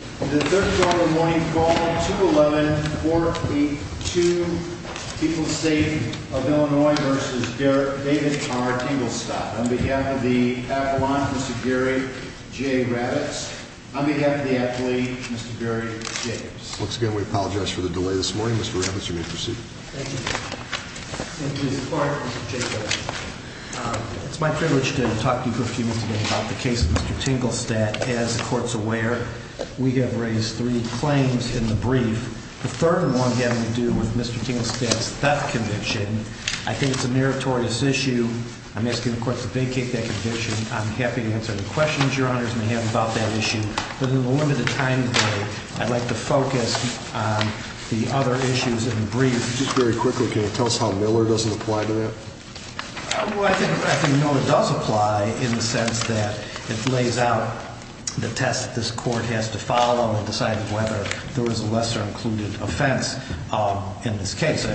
On behalf of the athlete, Mr. Gary J. Ravitz. Once again, we apologize for the delay this morning. Mr. Ravitz, you may proceed. Thank you. It's my privilege to talk to you briefly today about the case of Mr. Tingelstad. As the Court's aware, we have raised three claims in the brief. The third one had to do with Mr. Tingelstad's theft conviction. I think it's a meritorious issue. I'm asking the Court to vacate that conviction. I'm happy to answer any questions Your Honors may have about that issue. But in the limited time today, I'd like to focus on the other issues in the brief. Just very quickly, can you tell us how Miller doesn't apply to that? I think Miller does apply in the sense that it lays out the test this Court has to follow in deciding whether there was a lesser-included offense in this case.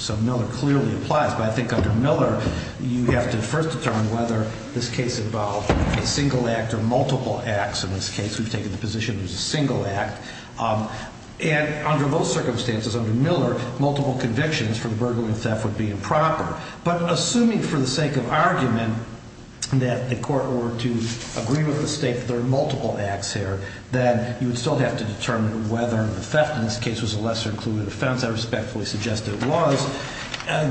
So Miller clearly applies. But I think under Miller, you have to first determine whether this case involved a single act or multiple acts. In this case, we've taken the position it was a single act. And under those circumstances, under Miller, multiple convictions for the burglary and theft would be improper. But assuming for the sake of argument that the Court were to agree with the State that there are multiple acts here, then you would still have to determine whether the theft in this case was a lesser-included offense. I respectfully suggest it was,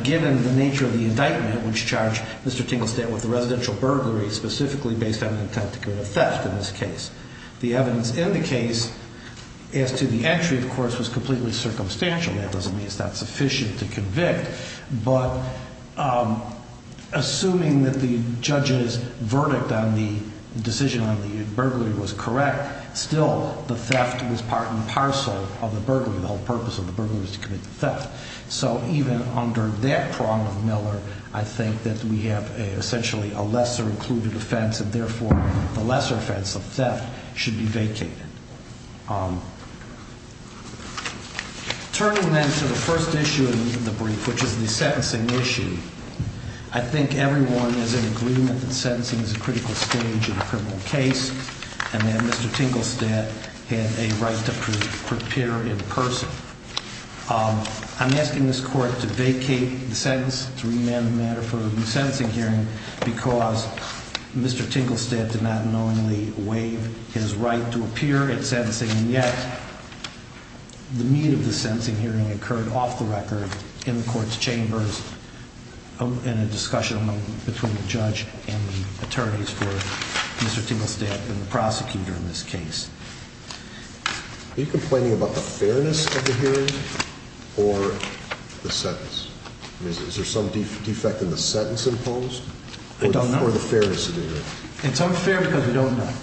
given the nature of the indictment, which charged Mr. Tingelstad with the residential burglary, specifically based on the intent to commit a theft in this case. The evidence in the case as to the entry, of course, was completely circumstantial. That doesn't mean it's not sufficient to convict. But assuming that the judge's verdict on the decision on the burglary was correct, still the theft was part and parcel of the burglary. The whole purpose of the burglary was to commit the theft. So even under that prong of Miller, I think that we have essentially a lesser-included offense, and therefore the lesser offense of theft should be vacated. Turning then to the first issue in the brief, which is the sentencing issue, I think everyone is in agreement that sentencing is a critical stage in a criminal case, and that Mr. Tingelstad had a right to appear in person. I'm asking this Court to vacate the sentence, to remand the matter for a new sentencing hearing, because Mr. Tingelstad did not knowingly waive his right to appear in sentencing, and yet the meat of the sentencing hearing occurred off the record in the Court's chambers in a discussion between the judge and the attorneys for Mr. Tingelstad and the prosecutor in this case. Are you complaining about the fairness of the hearing or the sentence? Is there some defect in the sentence imposed? I don't know. Or the fairness of the hearing? It's unfair because we don't know.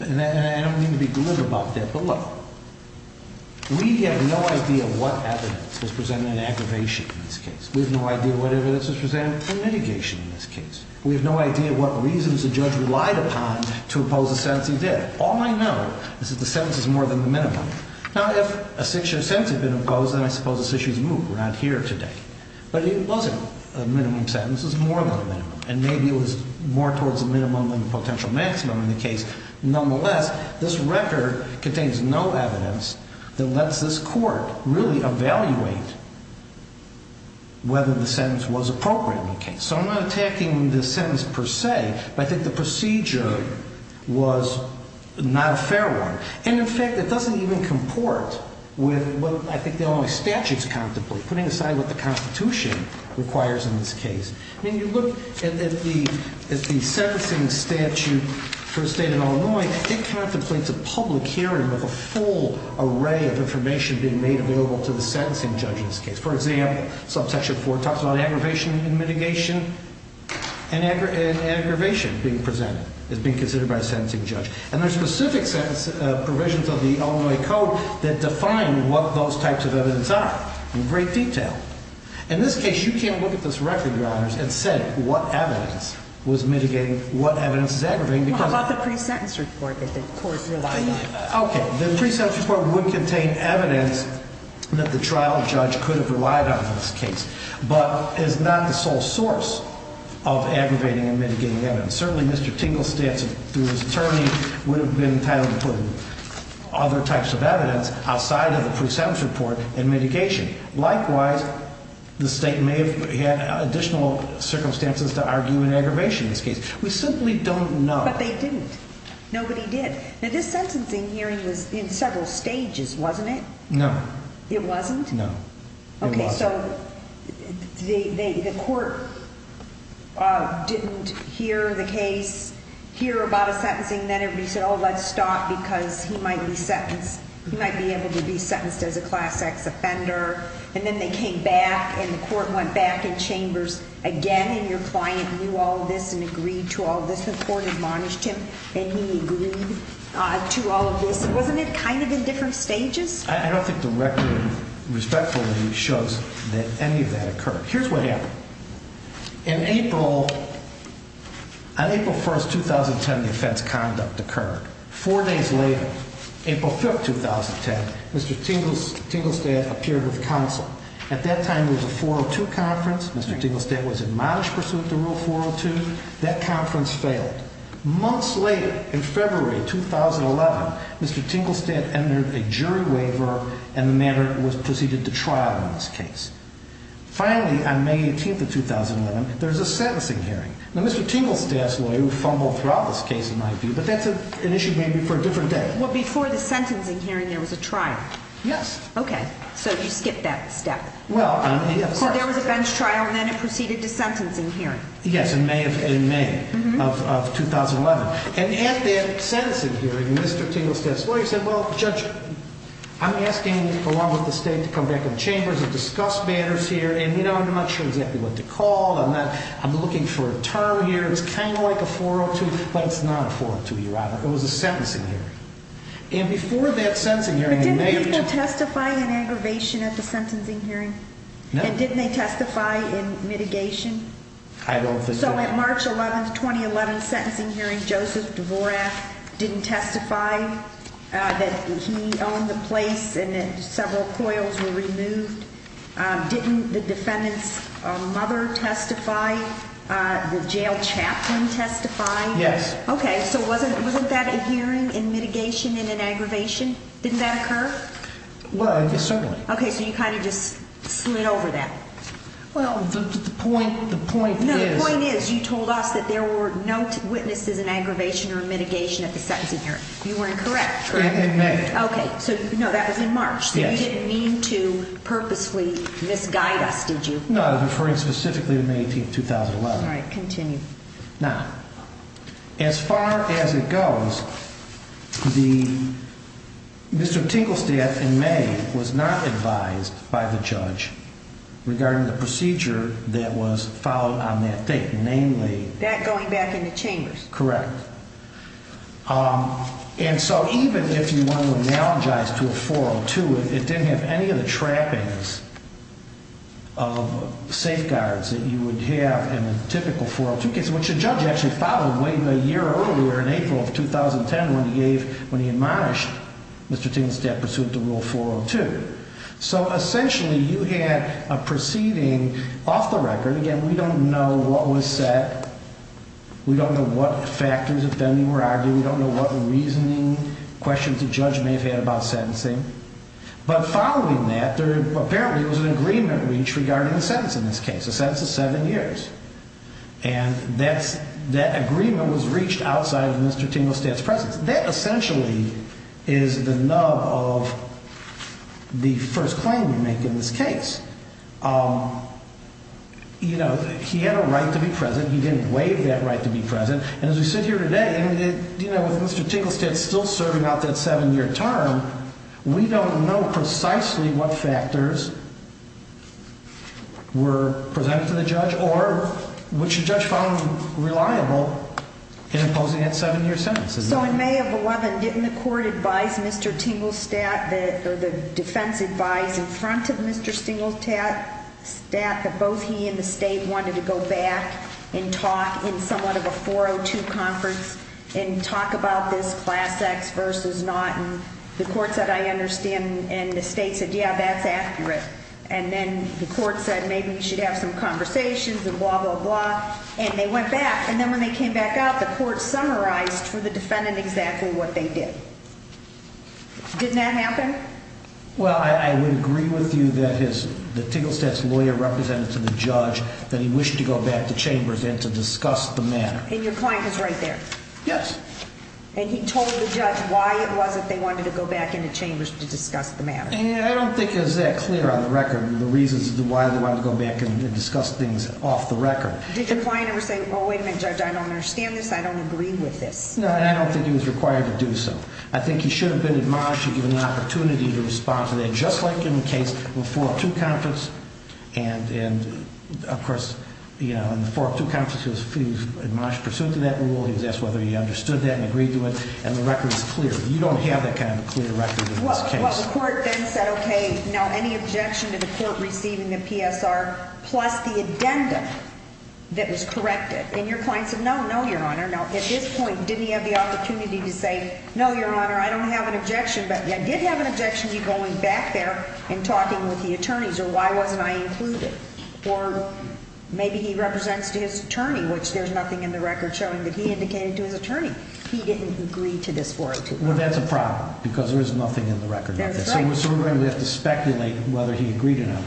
And I don't mean to be glib about that, but look, we have no idea what evidence was presented in aggravation in this case. We have no idea what evidence was presented for mitigation in this case. We have no idea what reasons the judge relied upon to oppose the sentencing there. All I know is that the sentence is more than the minimum. Now, if a six-year sentence had been imposed, then I suppose this issue is moved. We're not here today. But if it wasn't a minimum sentence, it was more than a minimum, and maybe it was more towards the minimum than the potential maximum in the case. Nonetheless, this record contains no evidence that lets this Court really evaluate whether the sentence was appropriate in the case. So I'm not attacking the sentence per se, but I think the procedure was not a fair one. And, in fact, it doesn't even comport with what I think the Illinois statutes contemplate, putting aside what the Constitution requires in this case. I mean, you look at the sentencing statute for a state in Illinois, it contemplates a public hearing with a full array of information being made available to the sentencing judge in this case. For example, subsection 4 talks about aggravation and mitigation, and aggravation being presented as being considered by a sentencing judge. And there are specific provisions of the Illinois Code that define what those types of evidence are in great detail. In this case, you can't look at this record, Your Honors, and say what evidence was mitigating what evidence is aggravating because... What about the pre-sentence report that the Court relied on? Okay, the pre-sentence report would contain evidence that the trial judge could have relied on in this case, but is not the sole source of aggravating and mitigating evidence. Certainly, Mr. Tinglestats, through his attorney, would have been entitled to put other types of evidence outside of the pre-sentence report and mitigation. Likewise, the state may have had additional circumstances to argue an aggravation in this case. We simply don't know. But they didn't. Nobody did. Now, this sentencing hearing was in several stages, wasn't it? No. It wasn't? No. It wasn't. So the Court didn't hear the case, hear about a sentencing, then everybody said, oh, let's stop because he might be sentenced. He might be able to be sentenced as a Class X offender. And then they came back, and the Court went back in chambers again, and your client knew all of this and agreed to all of this. The Court admonished him, and he agreed to all of this. Wasn't it kind of in different stages? I don't think the record respectfully shows that any of that occurred. Here's what happened. On April 1, 2010, the offense conduct occurred. Four days later, April 5, 2010, Mr. Tinglestat appeared with counsel. At that time, there was a 402 conference. Mr. Tinglestat was admonished pursuant to Rule 402. That conference failed. Months later, in February 2011, Mr. Tinglestat entered a jury waiver, and the matter was proceeded to trial in this case. Finally, on May 18, 2011, there was a sentencing hearing. Now, Mr. Tinglestat's lawyer fumbled throughout this case, in my view, but that's an issue maybe for a different day. Well, before the sentencing hearing, there was a trial. Yes. Okay. So you skipped that step. Well, yes. So there was a bench trial, and then it proceeded to sentencing hearing. Yes, in May of 2011. And at that sentencing hearing, Mr. Tinglestat's lawyer said, Well, Judge, I'm asking, along with the state, to come back in the chambers and discuss matters here, and, you know, I'm not sure exactly what to call. I'm looking for a term here. It was kind of like a 402, but it's not a 402, rather. It was a sentencing hearing. And before that sentencing hearing, they made a judgment. But didn't people testify in aggravation at the sentencing hearing? No. And didn't they testify in mitigation? I don't think so. So at March 11th, 2011, sentencing hearing, Joseph Dvorak didn't testify that he owned the place and that several coils were removed. Didn't the defendant's mother testify? The jail chaplain testified? Yes. Okay. So wasn't that a hearing in mitigation and in aggravation? Didn't that occur? Well, yes, certainly. Okay. So you kind of just slid over that. Well, the point is you told us that there were no witnesses in aggravation or mitigation at the sentencing hearing. You were incorrect, correct? In May. Okay. So, no, that was in March. Yes. So you didn't mean to purposely misguide us, did you? No, I was referring specifically to May 18th, 2011. All right, continue. Now, as far as it goes, Mr. Tinklestadt, in May, was not advised by the judge regarding the procedure that was followed on that date. Namely? That going back in the chambers. Correct. And so even if you want to analogize to a 402, it didn't have any of the trappings of safeguards that you would have in a typical 402. Which the judge actually followed way a year earlier in April of 2010 when he admonished Mr. Tinklestadt pursuant to Rule 402. So essentially you had a proceeding off the record. Again, we don't know what was said. We don't know what factors of fending were argued. We don't know what reasoning questions the judge may have had about sentencing. But following that, apparently there was an agreement reached regarding the sentence in this case. A sentence of seven years. And that agreement was reached outside of Mr. Tinklestadt's presence. That essentially is the nub of the first claim you make in this case. You know, he had a right to be present. He didn't waive that right to be present. And as we sit here today, you know, with Mr. Tinklestadt still serving out that seven-year term, we don't know precisely what factors were presented to the judge or which the judge found reliable in imposing that seven-year sentence. So in May of 2011, didn't the court advise Mr. Tinklestadt, or the defense advised in front of Mr. Tinklestadt that both he and the state wanted to go back and talk in somewhat of a 402 conference and talk about this Class X versus not. And the court said, I understand. And the state said, yeah, that's accurate. And then the court said maybe you should have some conversations and blah, blah, blah. And they went back, and then when they came back out, the court summarized for the defendant exactly what they did. Didn't that happen? Well, I would agree with you that the Tinklestadt's lawyer represented to the judge that he wished to go back to chambers and to discuss the matter. And your client was right there. Yes. And he told the judge why it was that they wanted to go back into chambers to discuss the matter. And I don't think it was that clear on the record the reasons why they wanted to go back and discuss things off the record. Did your client ever say, well, wait a minute, Judge, I don't understand this, I don't agree with this? No, and I don't think he was required to do so. I think he should have been admonished and given the opportunity to respond to that, just like in the case of the 402 conference. And, of course, in the 402 conference, he was admonished in pursuit of that rule. He was asked whether he understood that and agreed to it. You don't have that kind of clear record in this case. Well, the court then said, okay, now any objection to the court receiving the PSR plus the addendum that was corrected? And your client said, no, no, Your Honor. Now, at this point, didn't he have the opportunity to say, no, Your Honor, I don't have an objection, but I did have an objection to you going back there and talking with the attorneys, or why wasn't I included? Or maybe he represents to his attorney, which there's nothing in the record showing that he indicated to his attorney. He didn't agree to this 402. Well, that's a problem because there's nothing in the record. That's right. So we're sort of going to have to speculate whether he agreed or not.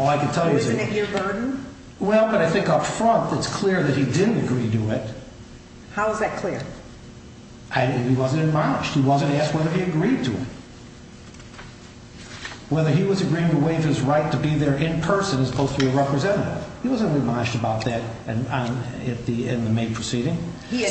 Isn't it your burden? Well, but I think up front, it's clear that he didn't agree to it. How is that clear? He wasn't admonished. He wasn't asked whether he agreed to it. Whether he was agreeing to waive his right to be there in person as opposed to be a representative. He wasn't admonished about that in the May proceeding. He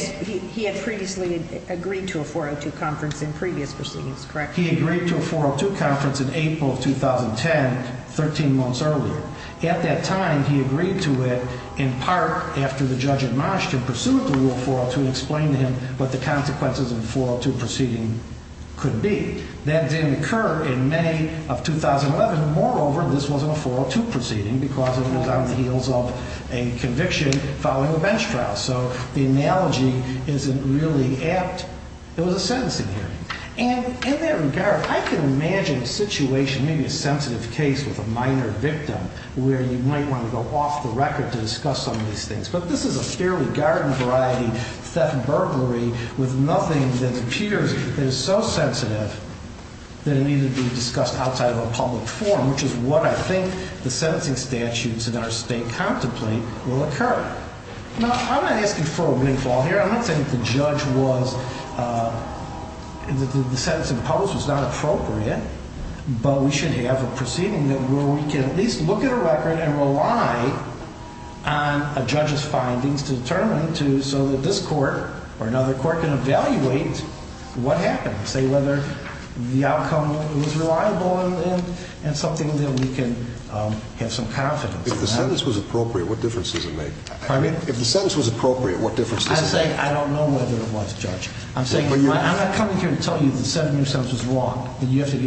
had previously agreed to a 402 conference in previous proceedings, correct? He agreed to a 402 conference in April of 2010, 13 months earlier. At that time, he agreed to it in part after the judge admonished him, pursued the rule 402, and explained to him what the consequences of the 402 proceeding could be. That didn't occur in May of 2011. Moreover, this wasn't a 402 proceeding because it was on the heels of a conviction following a bench trial. So the analogy isn't really apt. It was a sentencing hearing. And in that regard, I can imagine a situation, maybe a sensitive case with a minor victim, where you might want to go off the record to discuss some of these things. But this is a fairly garden-variety theft and burglary with nothing that appears so sensitive that it needed to be discussed outside of a public forum, which is what I think the sentencing statutes in our state contemplate will occur. Now, I'm not asking for a windfall here. I'm not saying that the judge was, that the sentence in public was not appropriate, but we should have a proceeding where we can at least look at a record and rely on a judge's findings to determine so that this court or another court can evaluate what happened, say whether the outcome was reliable and something that we can have some confidence in. If the sentence was appropriate, what difference does it make? Pardon me? If the sentence was appropriate, what difference does it make? I'm saying I don't know whether it was, Judge. I'm not coming here to tell you the seven-year sentence was wrong and you have to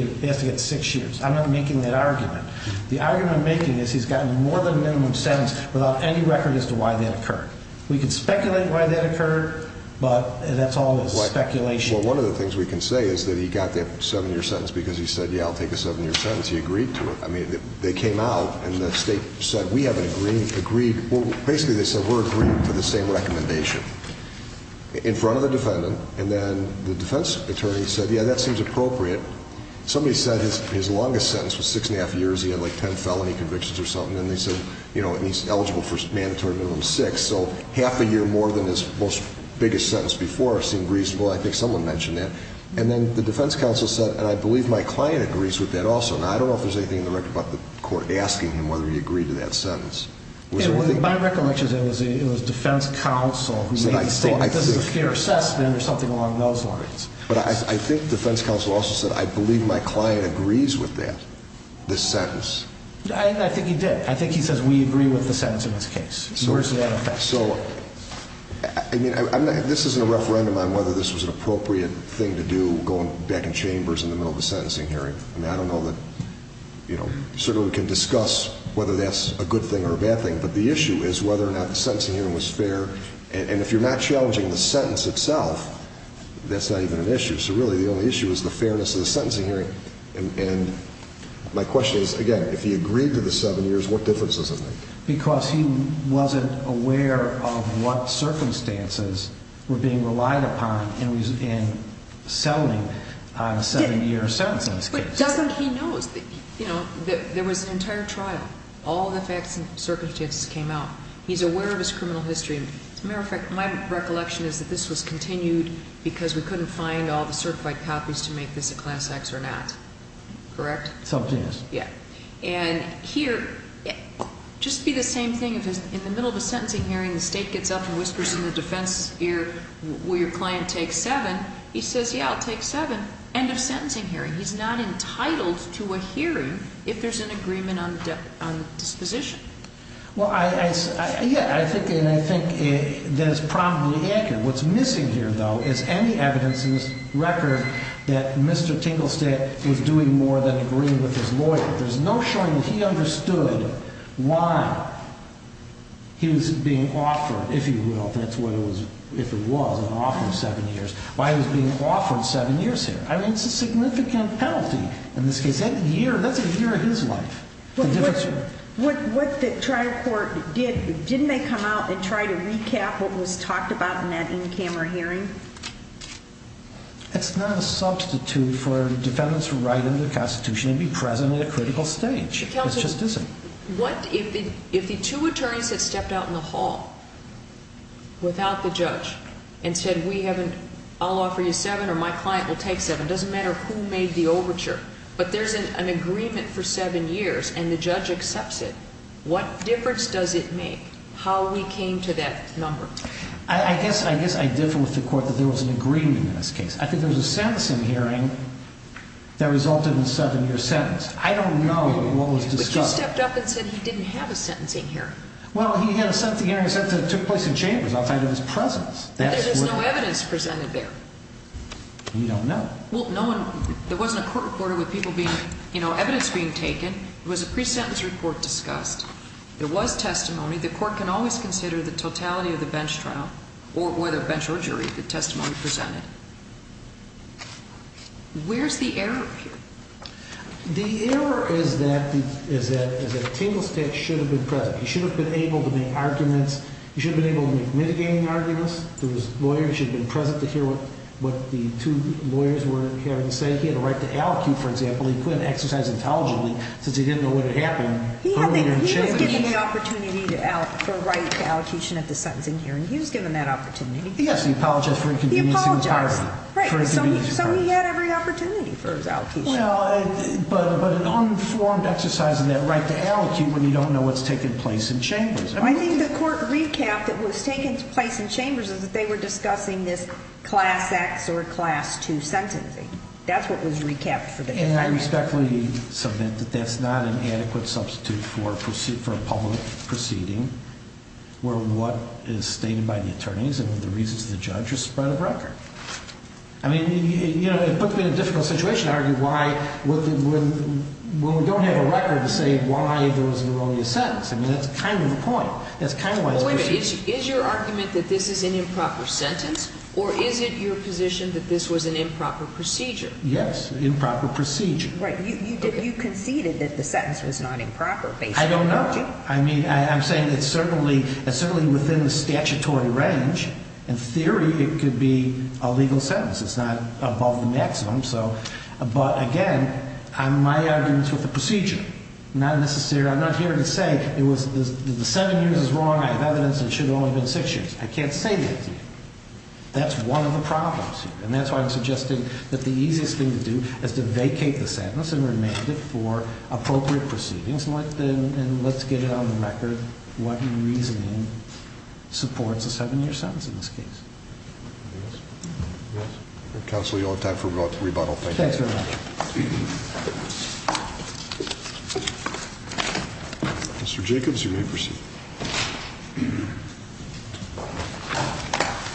get six years. I'm not making that argument. The argument I'm making is he's gotten more than a minimum sentence without any record as to why that occurred. We can speculate why that occurred, but that's all speculation. Well, one of the things we can say is that he got that seven-year sentence because he said, yeah, I'll take a seven-year sentence. He agreed to it. I mean, they came out and the state said, we haven't agreed. Well, basically they said we're agreeing to the same recommendation in front of the defendant, and then the defense attorney said, yeah, that seems appropriate. Somebody said his longest sentence was six and a half years. He had like ten felony convictions or something, and they said he's eligible for mandatory minimum six, so half a year more than his most biggest sentence before seemed reasonable. I think someone mentioned that. And then the defense counsel said, and I believe my client agrees with that also. Now, I don't know if there's anything in the record about the court asking him whether he agreed to that sentence. My recollection is it was defense counsel who made the statement, this is a fair assessment or something along those lines. But I think defense counsel also said, I believe my client agrees with that, this sentence. I think he did. I think he says we agree with the sentence in this case. So, I mean, this isn't a referendum on whether this was an appropriate thing to do, going back in chambers in the middle of a sentencing hearing. I mean, I don't know that, you know, certainly we can discuss whether that's a good thing or a bad thing, but the issue is whether or not the sentencing hearing was fair. And if you're not challenging the sentence itself, that's not even an issue. So really the only issue is the fairness of the sentencing hearing. And my question is, again, if he agreed to the seven years, what difference does it make? Because he wasn't aware of what circumstances were being relied upon in selling seven-year sentences. But doesn't he know, you know, there was an entire trial. All the facts and circumstances came out. He's aware of his criminal history. As a matter of fact, my recollection is that this was continued because we couldn't find all the certified copies to make this a class X or not. Correct? Something is. Yeah. And here, just be the same thing if in the middle of a sentencing hearing, the State gets up and whispers in the defense's ear, will your client take seven? He says, yeah, I'll take seven. End of sentencing hearing. He's not entitled to a hearing if there's an agreement on disposition. Well, yeah, I think that is probably accurate. What's missing here, though, is any evidence in this record that Mr. Tinglestad was doing more than agreeing with his lawyer. There's no showing that he understood why he was being offered, if he will, that's what it was, if it was an offer of seven years, why he was being offered seven years here. I mean, it's a significant penalty. In this case, that's a year of his life. What the trial court did, didn't they come out and try to recap what was talked about in that in-camera hearing? It's not a substitute for defendants to write into the Constitution and be present at a critical stage. It just isn't. What if the two attorneys had stepped out in the hall without the judge and said, I'll offer you seven or my client will take seven. It doesn't matter who made the overture, but there's an agreement for seven years and the judge accepts it. What difference does it make how we came to that number? I guess I differ with the court that there was an agreement in this case. I think there was a sentencing hearing that resulted in a seven-year sentence. I don't know what was discussed. But you stepped up and said he didn't have a sentencing hearing. Well, he had a sentencing hearing that took place in chambers outside of his presence. But there's no evidence presented there. We don't know. There wasn't a court report with evidence being taken. It was a pre-sentence report discussed. There was testimony. The court can always consider the totality of the bench trial or whether bench or jury, the testimony presented. Where's the error here? The error is that Tingle State should have been present. He should have been able to make arguments. He should have been able to make mitigating arguments. There was lawyers. He should have been present to hear what the two lawyers were having to say. He had a right to allocute, for example. He couldn't exercise intelligently since he didn't know what had happened. He was given the opportunity for a right to allocation at the sentencing hearing. He was given that opportunity. Yes, he apologized for inconveniencing the party. He apologized. So he had every opportunity for his allocation. But an unformed exercise in that right to allocate when you don't know what's taking place in chambers. I think the court recap that was taking place in chambers is that they were discussing this Class X or Class II sentencing. That's what was recapped for the case. And I respectfully submit that that's not an adequate substitute for a public proceeding where what is stated by the attorneys and the reasons of the judge are spread of record. I mean, it puts me in a difficult situation to argue why, when we don't have a record, to say why there was an erroneous sentence. I mean, that's kind of the point. That's kind of why it's a procedure. Wait a minute. Is your argument that this is an improper sentence or is it your position that this was an improper procedure? Yes, improper procedure. Right. You conceded that the sentence was not improper based on the clergy. I don't know. I mean, I'm saying it's certainly within the statutory range. In theory, it could be a legal sentence. It's not above the maximum. But, again, my argument is with the procedure. I'm not here to say the seven years is wrong. I have evidence that it should have only been six years. I can't say that to you. That's one of the problems here. And that's why I'm suggesting that the easiest thing to do is to vacate the sentence and remand it for appropriate proceedings, and let's get it on the record what reasoning supports a seven-year sentence in this case. Yes? Yes? Counsel, you'll have time for rebuttal. Thank you. Thanks very much. Mr. Jacobs, you're next.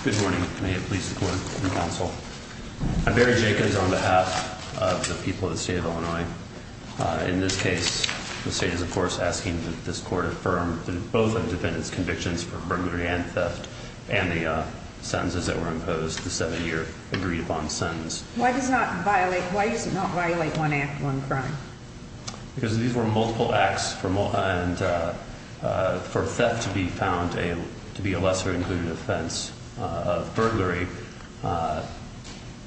Good morning. Can I get police support and counsel? I'm Barry Jacobs on behalf of the people of the state of Illinois. In this case, the state is, of course, asking that this court affirm both the defendant's convictions for burglary and theft and the sentences that were imposed, the seven-year agreed-upon sentence. Why does it not violate one act, one crime? Because these were multiple acts, and for theft to be found to be a lesser-included offense of burglary,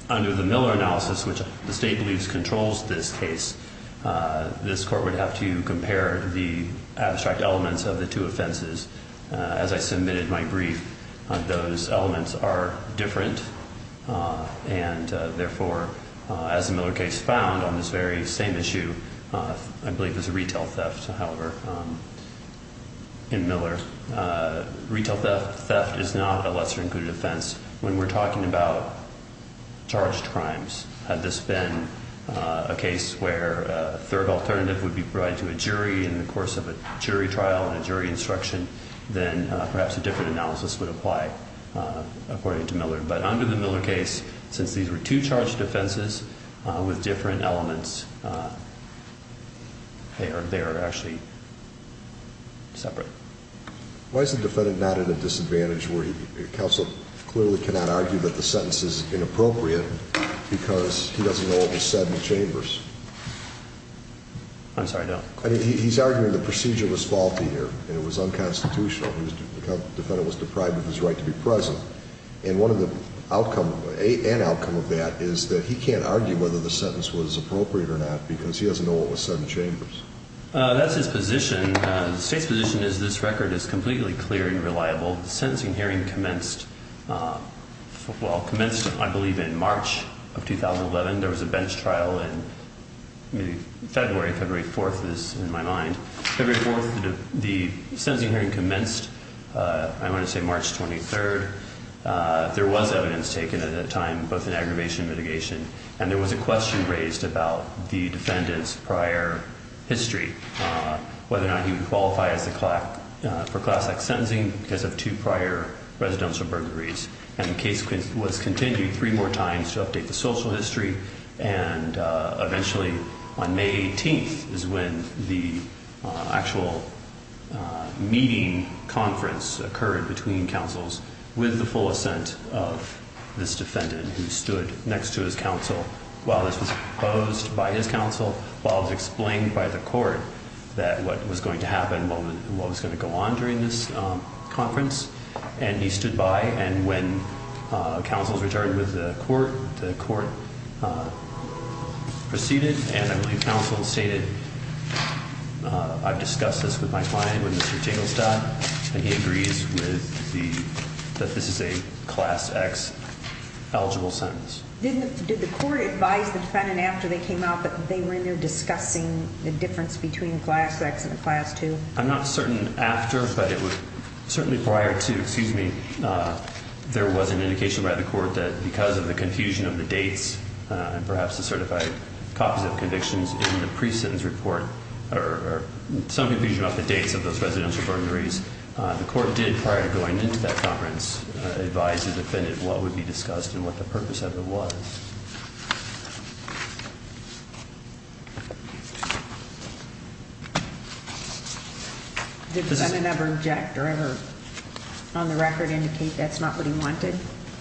under the Miller analysis, which the state believes controls this case, this court would have to compare the abstract elements of the two offenses. As I submitted my brief, those elements are different, and therefore, as the Miller case found on this very same issue, I believe it was a retail theft, however, in Miller. Retail theft is not a lesser-included offense when we're talking about charged crimes. Had this been a case where a third alternative would be provided to a jury in the course of a jury trial and a jury instruction, then perhaps a different analysis would apply, according to Miller. But under the Miller case, since these were two charged offenses with different elements, they are actually separate. Why is the defendant not at a disadvantage? Counsel clearly cannot argue that the sentence is inappropriate because he doesn't know what was said in the chambers. I'm sorry, go ahead. He's arguing the procedure was faulty here, and it was unconstitutional. The defendant was deprived of his right to be present. And one of the outcome, an outcome of that, is that he can't argue whether the sentence was appropriate or not because he doesn't know what was said in the chambers. That's his position. The state's position is this record is completely clear and reliable. The sentencing hearing commenced, well, commenced, I believe, in March of 2011. There was a bench trial in February. February 4th is in my mind. February 4th, the sentencing hearing commenced, I want to say March 23rd. There was evidence taken at that time, both in aggravation and mitigation, and there was a question raised about the defendant's prior history, whether or not he would qualify for class act sentencing because of two prior residential burglaries. And the case was continued three more times to update the social history, and eventually on May 18th is when the actual meeting conference occurred between counsels with the full assent of this defendant who stood next to his counsel while this was proposed by his counsel, while it was explained by the court that what was going to happen, what was going to go on during this conference, and he stood by, and when counsels returned with the court, the court proceeded, and I believe counsel stated, I've discussed this with my client, with Mr. Jinglestad, and he agrees that this is a class X eligible sentence. Did the court advise the defendant after they came out that they were in there discussing the difference between class X and class 2? I'm not certain after, but certainly prior to, excuse me, there was an indication by the court that because of the confusion of the dates and perhaps the certified copies of convictions in the pre-sentence report or some confusion about the dates of those residential burglaries, the court did, prior to going into that conference, advise the defendant of what would be discussed and what the purpose of it was. Did the defendant ever object or ever on the record indicate that's not what he wanted?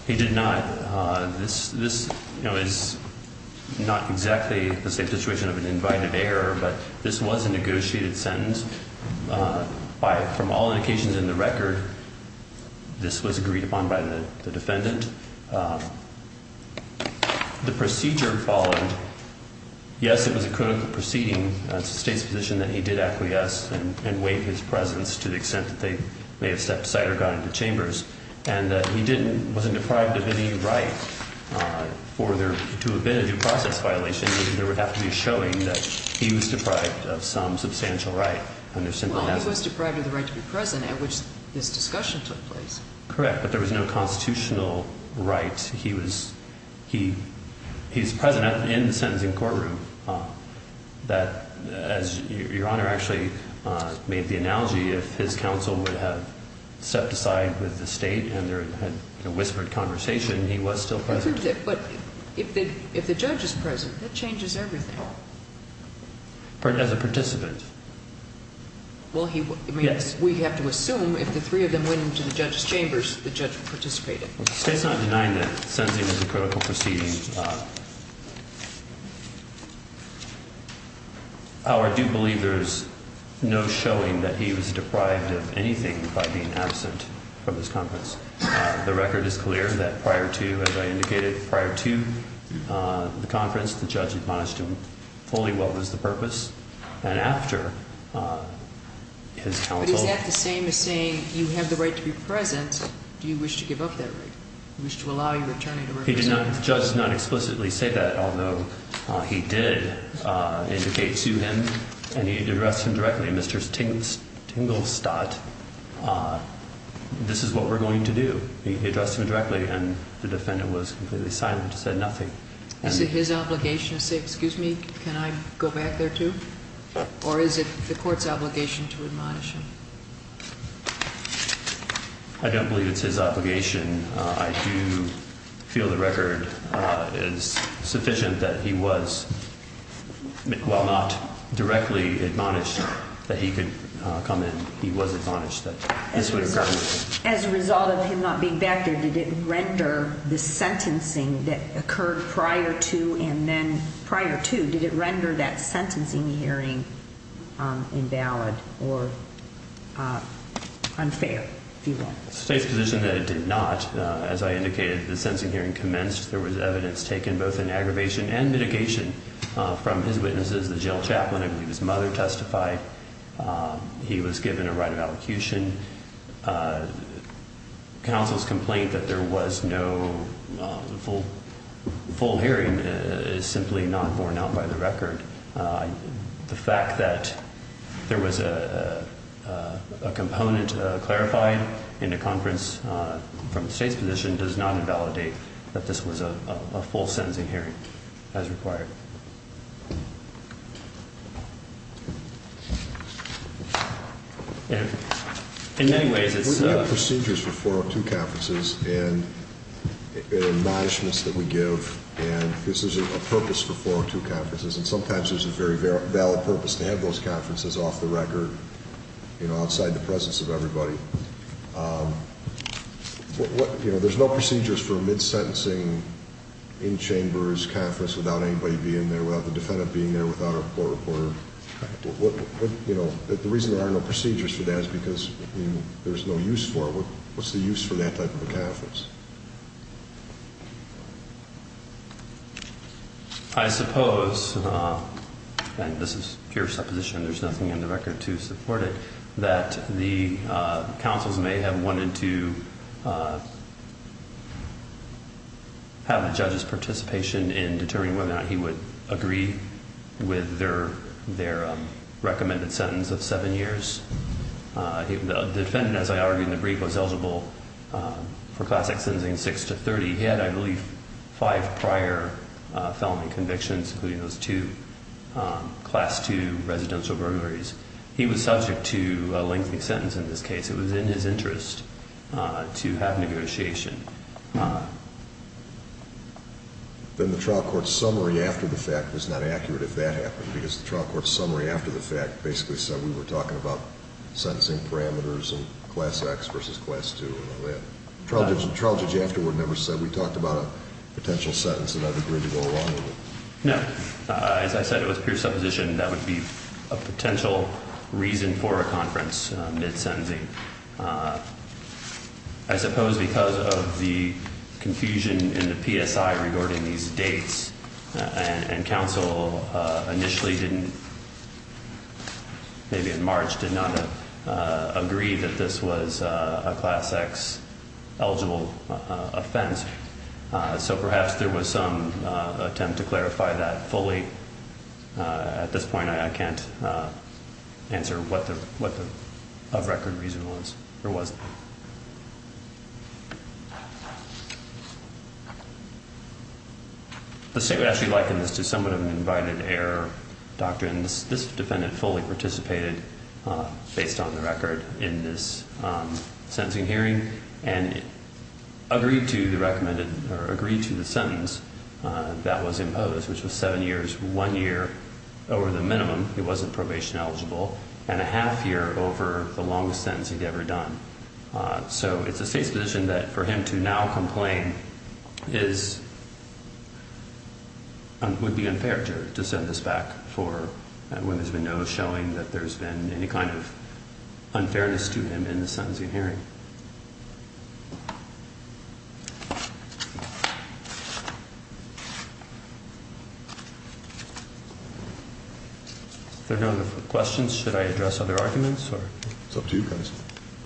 He did not. This is not exactly the same situation of an invited error, but this was a negotiated sentence. From all indications in the record, this was agreed upon by the defendant. The procedure followed. Yes, it was a critical proceeding. It's the State's position that he did acquiesce and waive his presence to the extent that they may have stepped aside or gone into chambers, and that he wasn't deprived of any right for there to have been a due process violation, and there would have to be a showing that he was deprived of some substantial right. Well, he was deprived of the right to be present at which this discussion took place. Correct, but there was no constitutional right. He was present in the sentencing courtroom that, as Your Honor actually made the analogy, if his counsel would have stepped aside with the State and had a whispered conversation, he was still present. But if the judge is present, that changes everything. As a participant. Well, we have to assume if the three of them went into the judge's chambers, the judge participated. The State's not denying that the sentencing was a critical proceeding. However, I do believe there is no showing that he was deprived of anything by being absent from this conference. The record is clear that prior to, as I indicated, prior to the conference, the judge admonished him fully what was the purpose, and after his counsel. But is that the same as saying you have the right to be present, do you wish to give up that right? Do you wish to allow your attorney to represent you? The judge did not explicitly say that, although he did indicate to him, and he addressed him directly, Mr. Stinglestad, this is what we're going to do. He addressed him directly, and the defendant was completely silent, said nothing. Is it his obligation to say, excuse me, can I go back there too? Or is it the court's obligation to admonish him? I don't believe it's his obligation. I do feel the record is sufficient that he was, while not directly admonished, that he could come in. He was admonished that this would occur. As a result of him not being back there, did it render the sentencing that occurred prior to, and then prior to, did it render that sentencing hearing invalid or unfair, if you will? The state's position that it did not. As I indicated, the sentencing hearing commenced. There was evidence taken both in aggravation and mitigation from his witnesses. The jail chaplain, I believe his mother testified. He was given a right of allocution. Counsel's complaint that there was no full hearing is simply not borne out by the record. The fact that there was a component clarified in a conference from the state's position does not invalidate that this was a full sentencing hearing as required. We have procedures for 402 conferences, and admonishments that we give, and this is a purpose for 402 conferences, and sometimes there's a very valid purpose to have those conferences off the record, outside the presence of everybody. There's no procedures for a mid-sentencing, in-chambers conference without anybody being there, without the defendant being there, without a court reporter. The reason there are no procedures for that is because there's no use for it. What's the use for that type of a conference? I suppose, and this is pure supposition, there's nothing in the record to support it, that the counsels may have wanted to have the judge's participation in determining whether or not he would agree with their recommended sentence of seven years. The defendant, as I argued in the brief, was eligible for classic sentencing six to 30. He had, I believe, five prior felony convictions, including those two Class II residential burglaries. He was subject to a lengthy sentence in this case. It was in his interest to have negotiation. Then the trial court summary after the fact was not accurate if that happened, because the trial court summary after the fact basically said we were talking about sentencing parameters and Class X versus Class II and all that. The trial judge afterward never said we talked about a potential sentence that I'd agree to go along with. No. As I said, it was pure supposition. That would be a potential reason for a conference, mid-sentencing. I suppose because of the confusion in the PSI regarding these dates and counsel initially didn't, maybe in March, did not agree that this was a Class X eligible offense. So perhaps there was some attempt to clarify that fully. At this point, I can't answer what the of-record reason was or wasn't. The state would actually liken this to somewhat of an invited-error doctrine. This defendant fully participated, based on the record, in this sentencing hearing and agreed to the sentence that was imposed, which was seven years. One year over the minimum, he wasn't probation-eligible, and a half year over the longest sentence he'd ever done. So it's the state's position that for him to now complain would be unfair to send this back when there's been no showing that there's been any kind of unfairness to him in the sentencing hearing. If there are no other questions, should I address other arguments? It's up to you guys.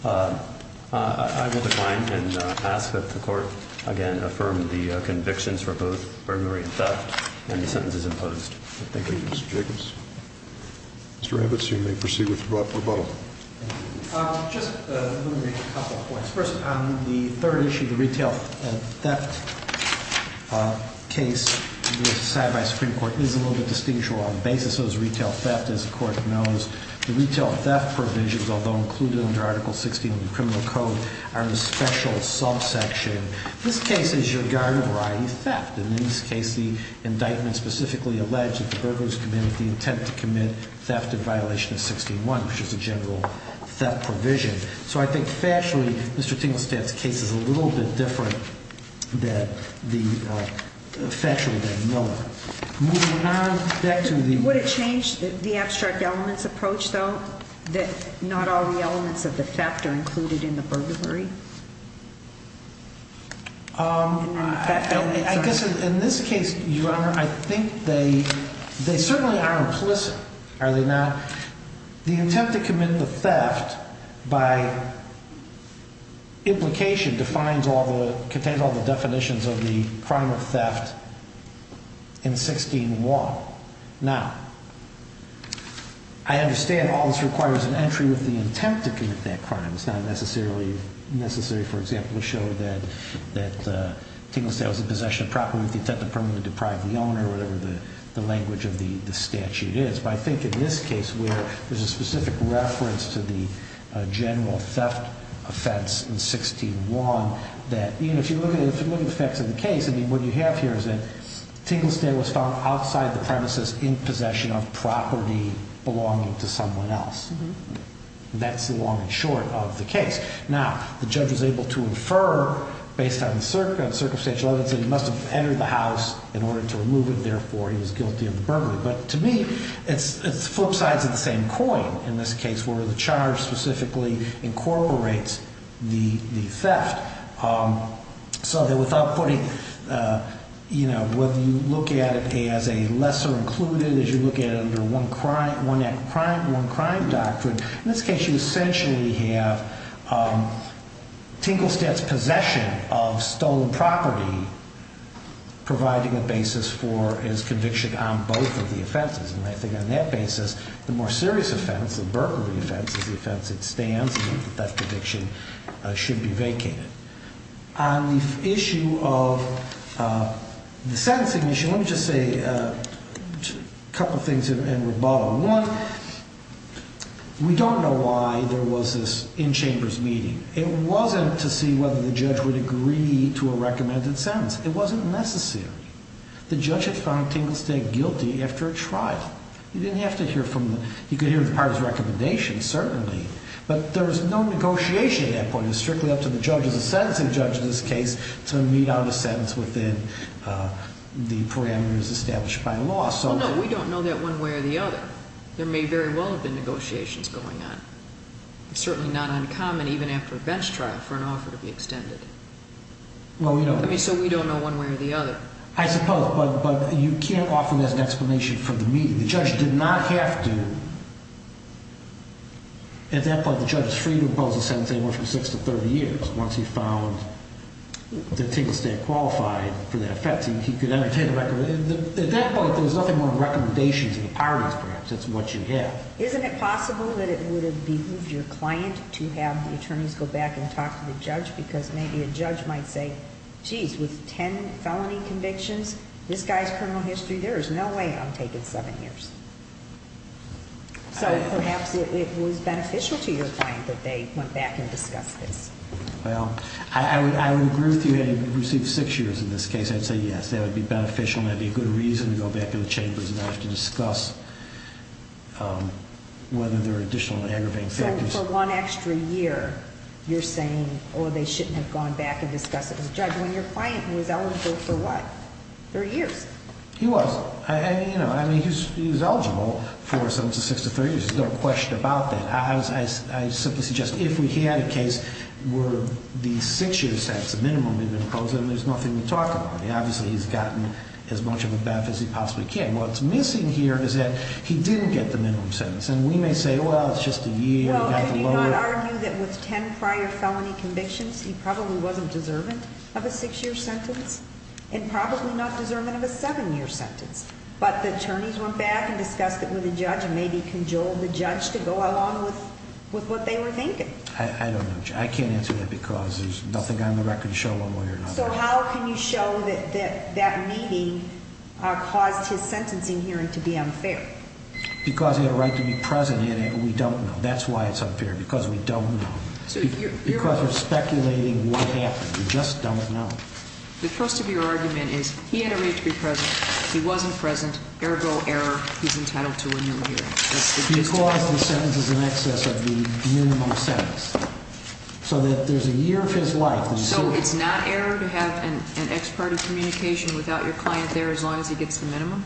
I will decline and ask that the Court, again, affirm the convictions for both burglary and theft and the sentences imposed. Thank you, Mr. Jacobs. Mr. Rabbits, you may proceed with rebuttal. Just let me make a couple of points. First, on the third issue, the retail theft case decided by the Supreme Court is a little bit distinguishable on the basis of retail theft, as the Court knows. The retail theft provisions, although included under Article 16 of the Criminal Code, are in a special subsection. This case is regarding a variety of theft. In this case, the indictment specifically alleged that the burglars committed the intent to commit theft in violation of 16-1, which is a general theft provision. So I think factually, Mr. Tinglestad's case is a little bit different factually than Miller. Moving on, back to the... Would it change the abstract elements approach, though, that not all the elements of the theft are included in the burglary? I guess in this case, Your Honor, I think they certainly are implicit. Are they not? The attempt to commit the theft, by implication, contains all the definitions of the crime of theft in 16-1. Now, I understand all this requires an entry with the attempt to commit that crime. It's not necessarily necessary, for example, to show that Tinglestad was in possession of property with the intent to permanently deprive the owner, or whatever the language of the statute is. But I think in this case, where there's a specific reference to the general theft offense in 16-1, that even if you look at the facts of the case, what you have here is that Tinglestad was found outside the premises in possession of property belonging to someone else. That's the long and short of the case. Now, the judge was able to infer, based on the circumstantial evidence, that he must have entered the house in order to remove it, therefore he was guilty of the burglary. But to me, it's flip sides of the same coin in this case, where the charge specifically incorporates the theft. So that without putting... You know, whether you look at it as a lesser included, as you look at it under one crime, one act of crime, one crime doctrine, in this case you essentially have Tinglestad's possession of stolen property providing a basis for his conviction on both of the offenses. And I think on that basis, the more serious offense, the burglary offense, is the offense that stands, and that conviction should be vacated. On the issue of the sentencing issue, let me just say a couple things in rebuttal. One, we don't know why there was this in-chambers meeting. It wasn't to see whether the judge would agree to a recommended sentence. It wasn't necessary. The judge had found Tinglestad guilty after a trial. You didn't have to hear from the... You could hear the parties' recommendations, certainly, but there was no negotiation at that point. It was strictly up to the judge, as a sentencing judge in this case, to meet out a sentence within the parameters established by law. Well, no, we don't know that one way or the other. There may very well have been negotiations going on. It's certainly not uncommon, even after a bench trial, for an offer to be extended. So we don't know one way or the other. I suppose, but you can't offer an explanation for the meeting. The judge did not have to... At that point, the judge is free to impose a sentence anywhere from 6 to 30 years once he found that Tinglestad qualified for that offense. He could entertain a recommendation. At that point, there's nothing more than recommendations of the parties, perhaps. That's what you have. Isn't it possible that it would have behooved your client to have the attorneys go back and talk to the judge because maybe a judge might say, geez, with 10 felony convictions, this guy's criminal history, there is no way I'm taking 7 years. So perhaps it was beneficial to your client that they went back and discussed this. Well, I would agree with you. Had he received 6 years in this case, I'd say yes. That would be beneficial and that would be a good reason to go back to the chambers and have to discuss whether there are additional aggravating factors. So for one extra year, you're saying, oh, they shouldn't have gone back and discussed it with the judge when your client was eligible for what? 30 years? He was. I mean, he was eligible for 7 to 6 to 3 years. There's no question about that. I simply suggest if we had a case where the 6-year sentence, the minimum we've imposed on him, there's nothing to talk about. Obviously, he's gotten as much of a baff as he possibly can. What's missing here is that he didn't get the minimum sentence. And we may say, well, it's just a year. Well, and do not argue that with 10 prior felony convictions, he probably wasn't deserving of a 6-year sentence and probably not deserving of a 7-year sentence. But the attorneys went back and discussed it with the judge and maybe cajoled the judge to go along with what they were thinking. I don't know. I can't answer that because there's nothing on the record to show a lawyer. So how can you show that that meeting caused his sentencing hearing to be unfair? Because he had a right to be present and we don't know. That's why it's unfair, because we don't know. Because we're speculating what happened. We just don't know. The first of your argument is he had a right to be present. He wasn't present, ergo error. He's entitled to a new hearing. He caused the sentences in excess of the minimum sentence. So that there's a year of his life. So it's not error to have an ex parte communication without your client there as long as he gets the minimum?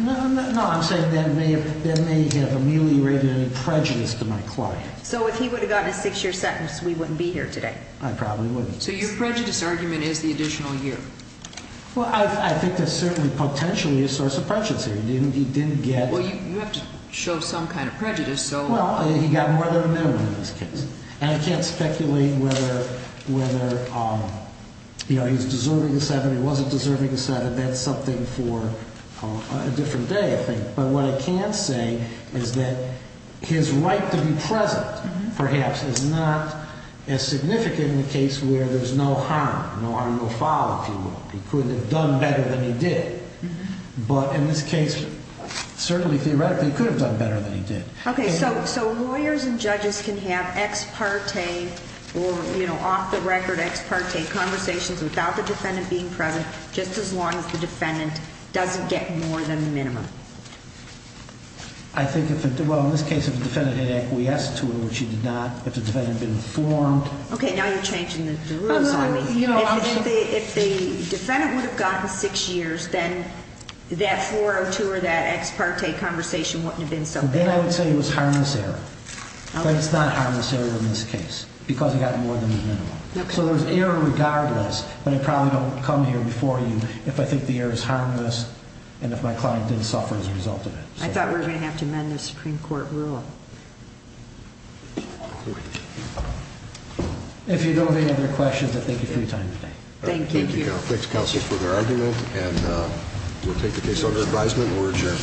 No, I'm saying that may have ameliorated any prejudice to my client. So if he would have gotten a 6-year sentence, we wouldn't be here today. I probably wouldn't. So your prejudice argument is the additional year. Well, I think that's certainly potentially a source of prejudice here. He didn't get... Well, you have to show some kind of prejudice, so... Well, he got more than a minimum in this case. And I can't speculate whether, you know, he was deserving of 7. He wasn't deserving of 7. That's something for a different day, I think. But what I can say is that his right to be present, perhaps, is not as significant in the case where there's no harm. No harm, no foul, if you will. He could have done better than he did. But in this case, certainly theoretically, he could have done better than he did. Okay, so lawyers and judges can have ex parte or, you know, off-the-record ex parte conversations without the defendant being present just as long as the defendant doesn't get more than the minimum? Well, in this case, if the defendant had acquiesced to it, which he did not, if the defendant had been informed... Okay, now you're changing the rules on me. If the defendant would have gotten 6 years, then that 402 or that ex parte conversation wouldn't have been so bad. Then I would say it was harmless error. But it's not harmless error in this case because he got more than the minimum. So there's error regardless, but I probably don't come here before you if I think the error is harmless and if my client didn't suffer as a result of it. I thought we were going to have to amend the Supreme Court rule. If you don't have any other questions, I thank you for your time today. Thank you. Thanks, counsel, for the argument, and we'll take the case under advisement. We're adjourned.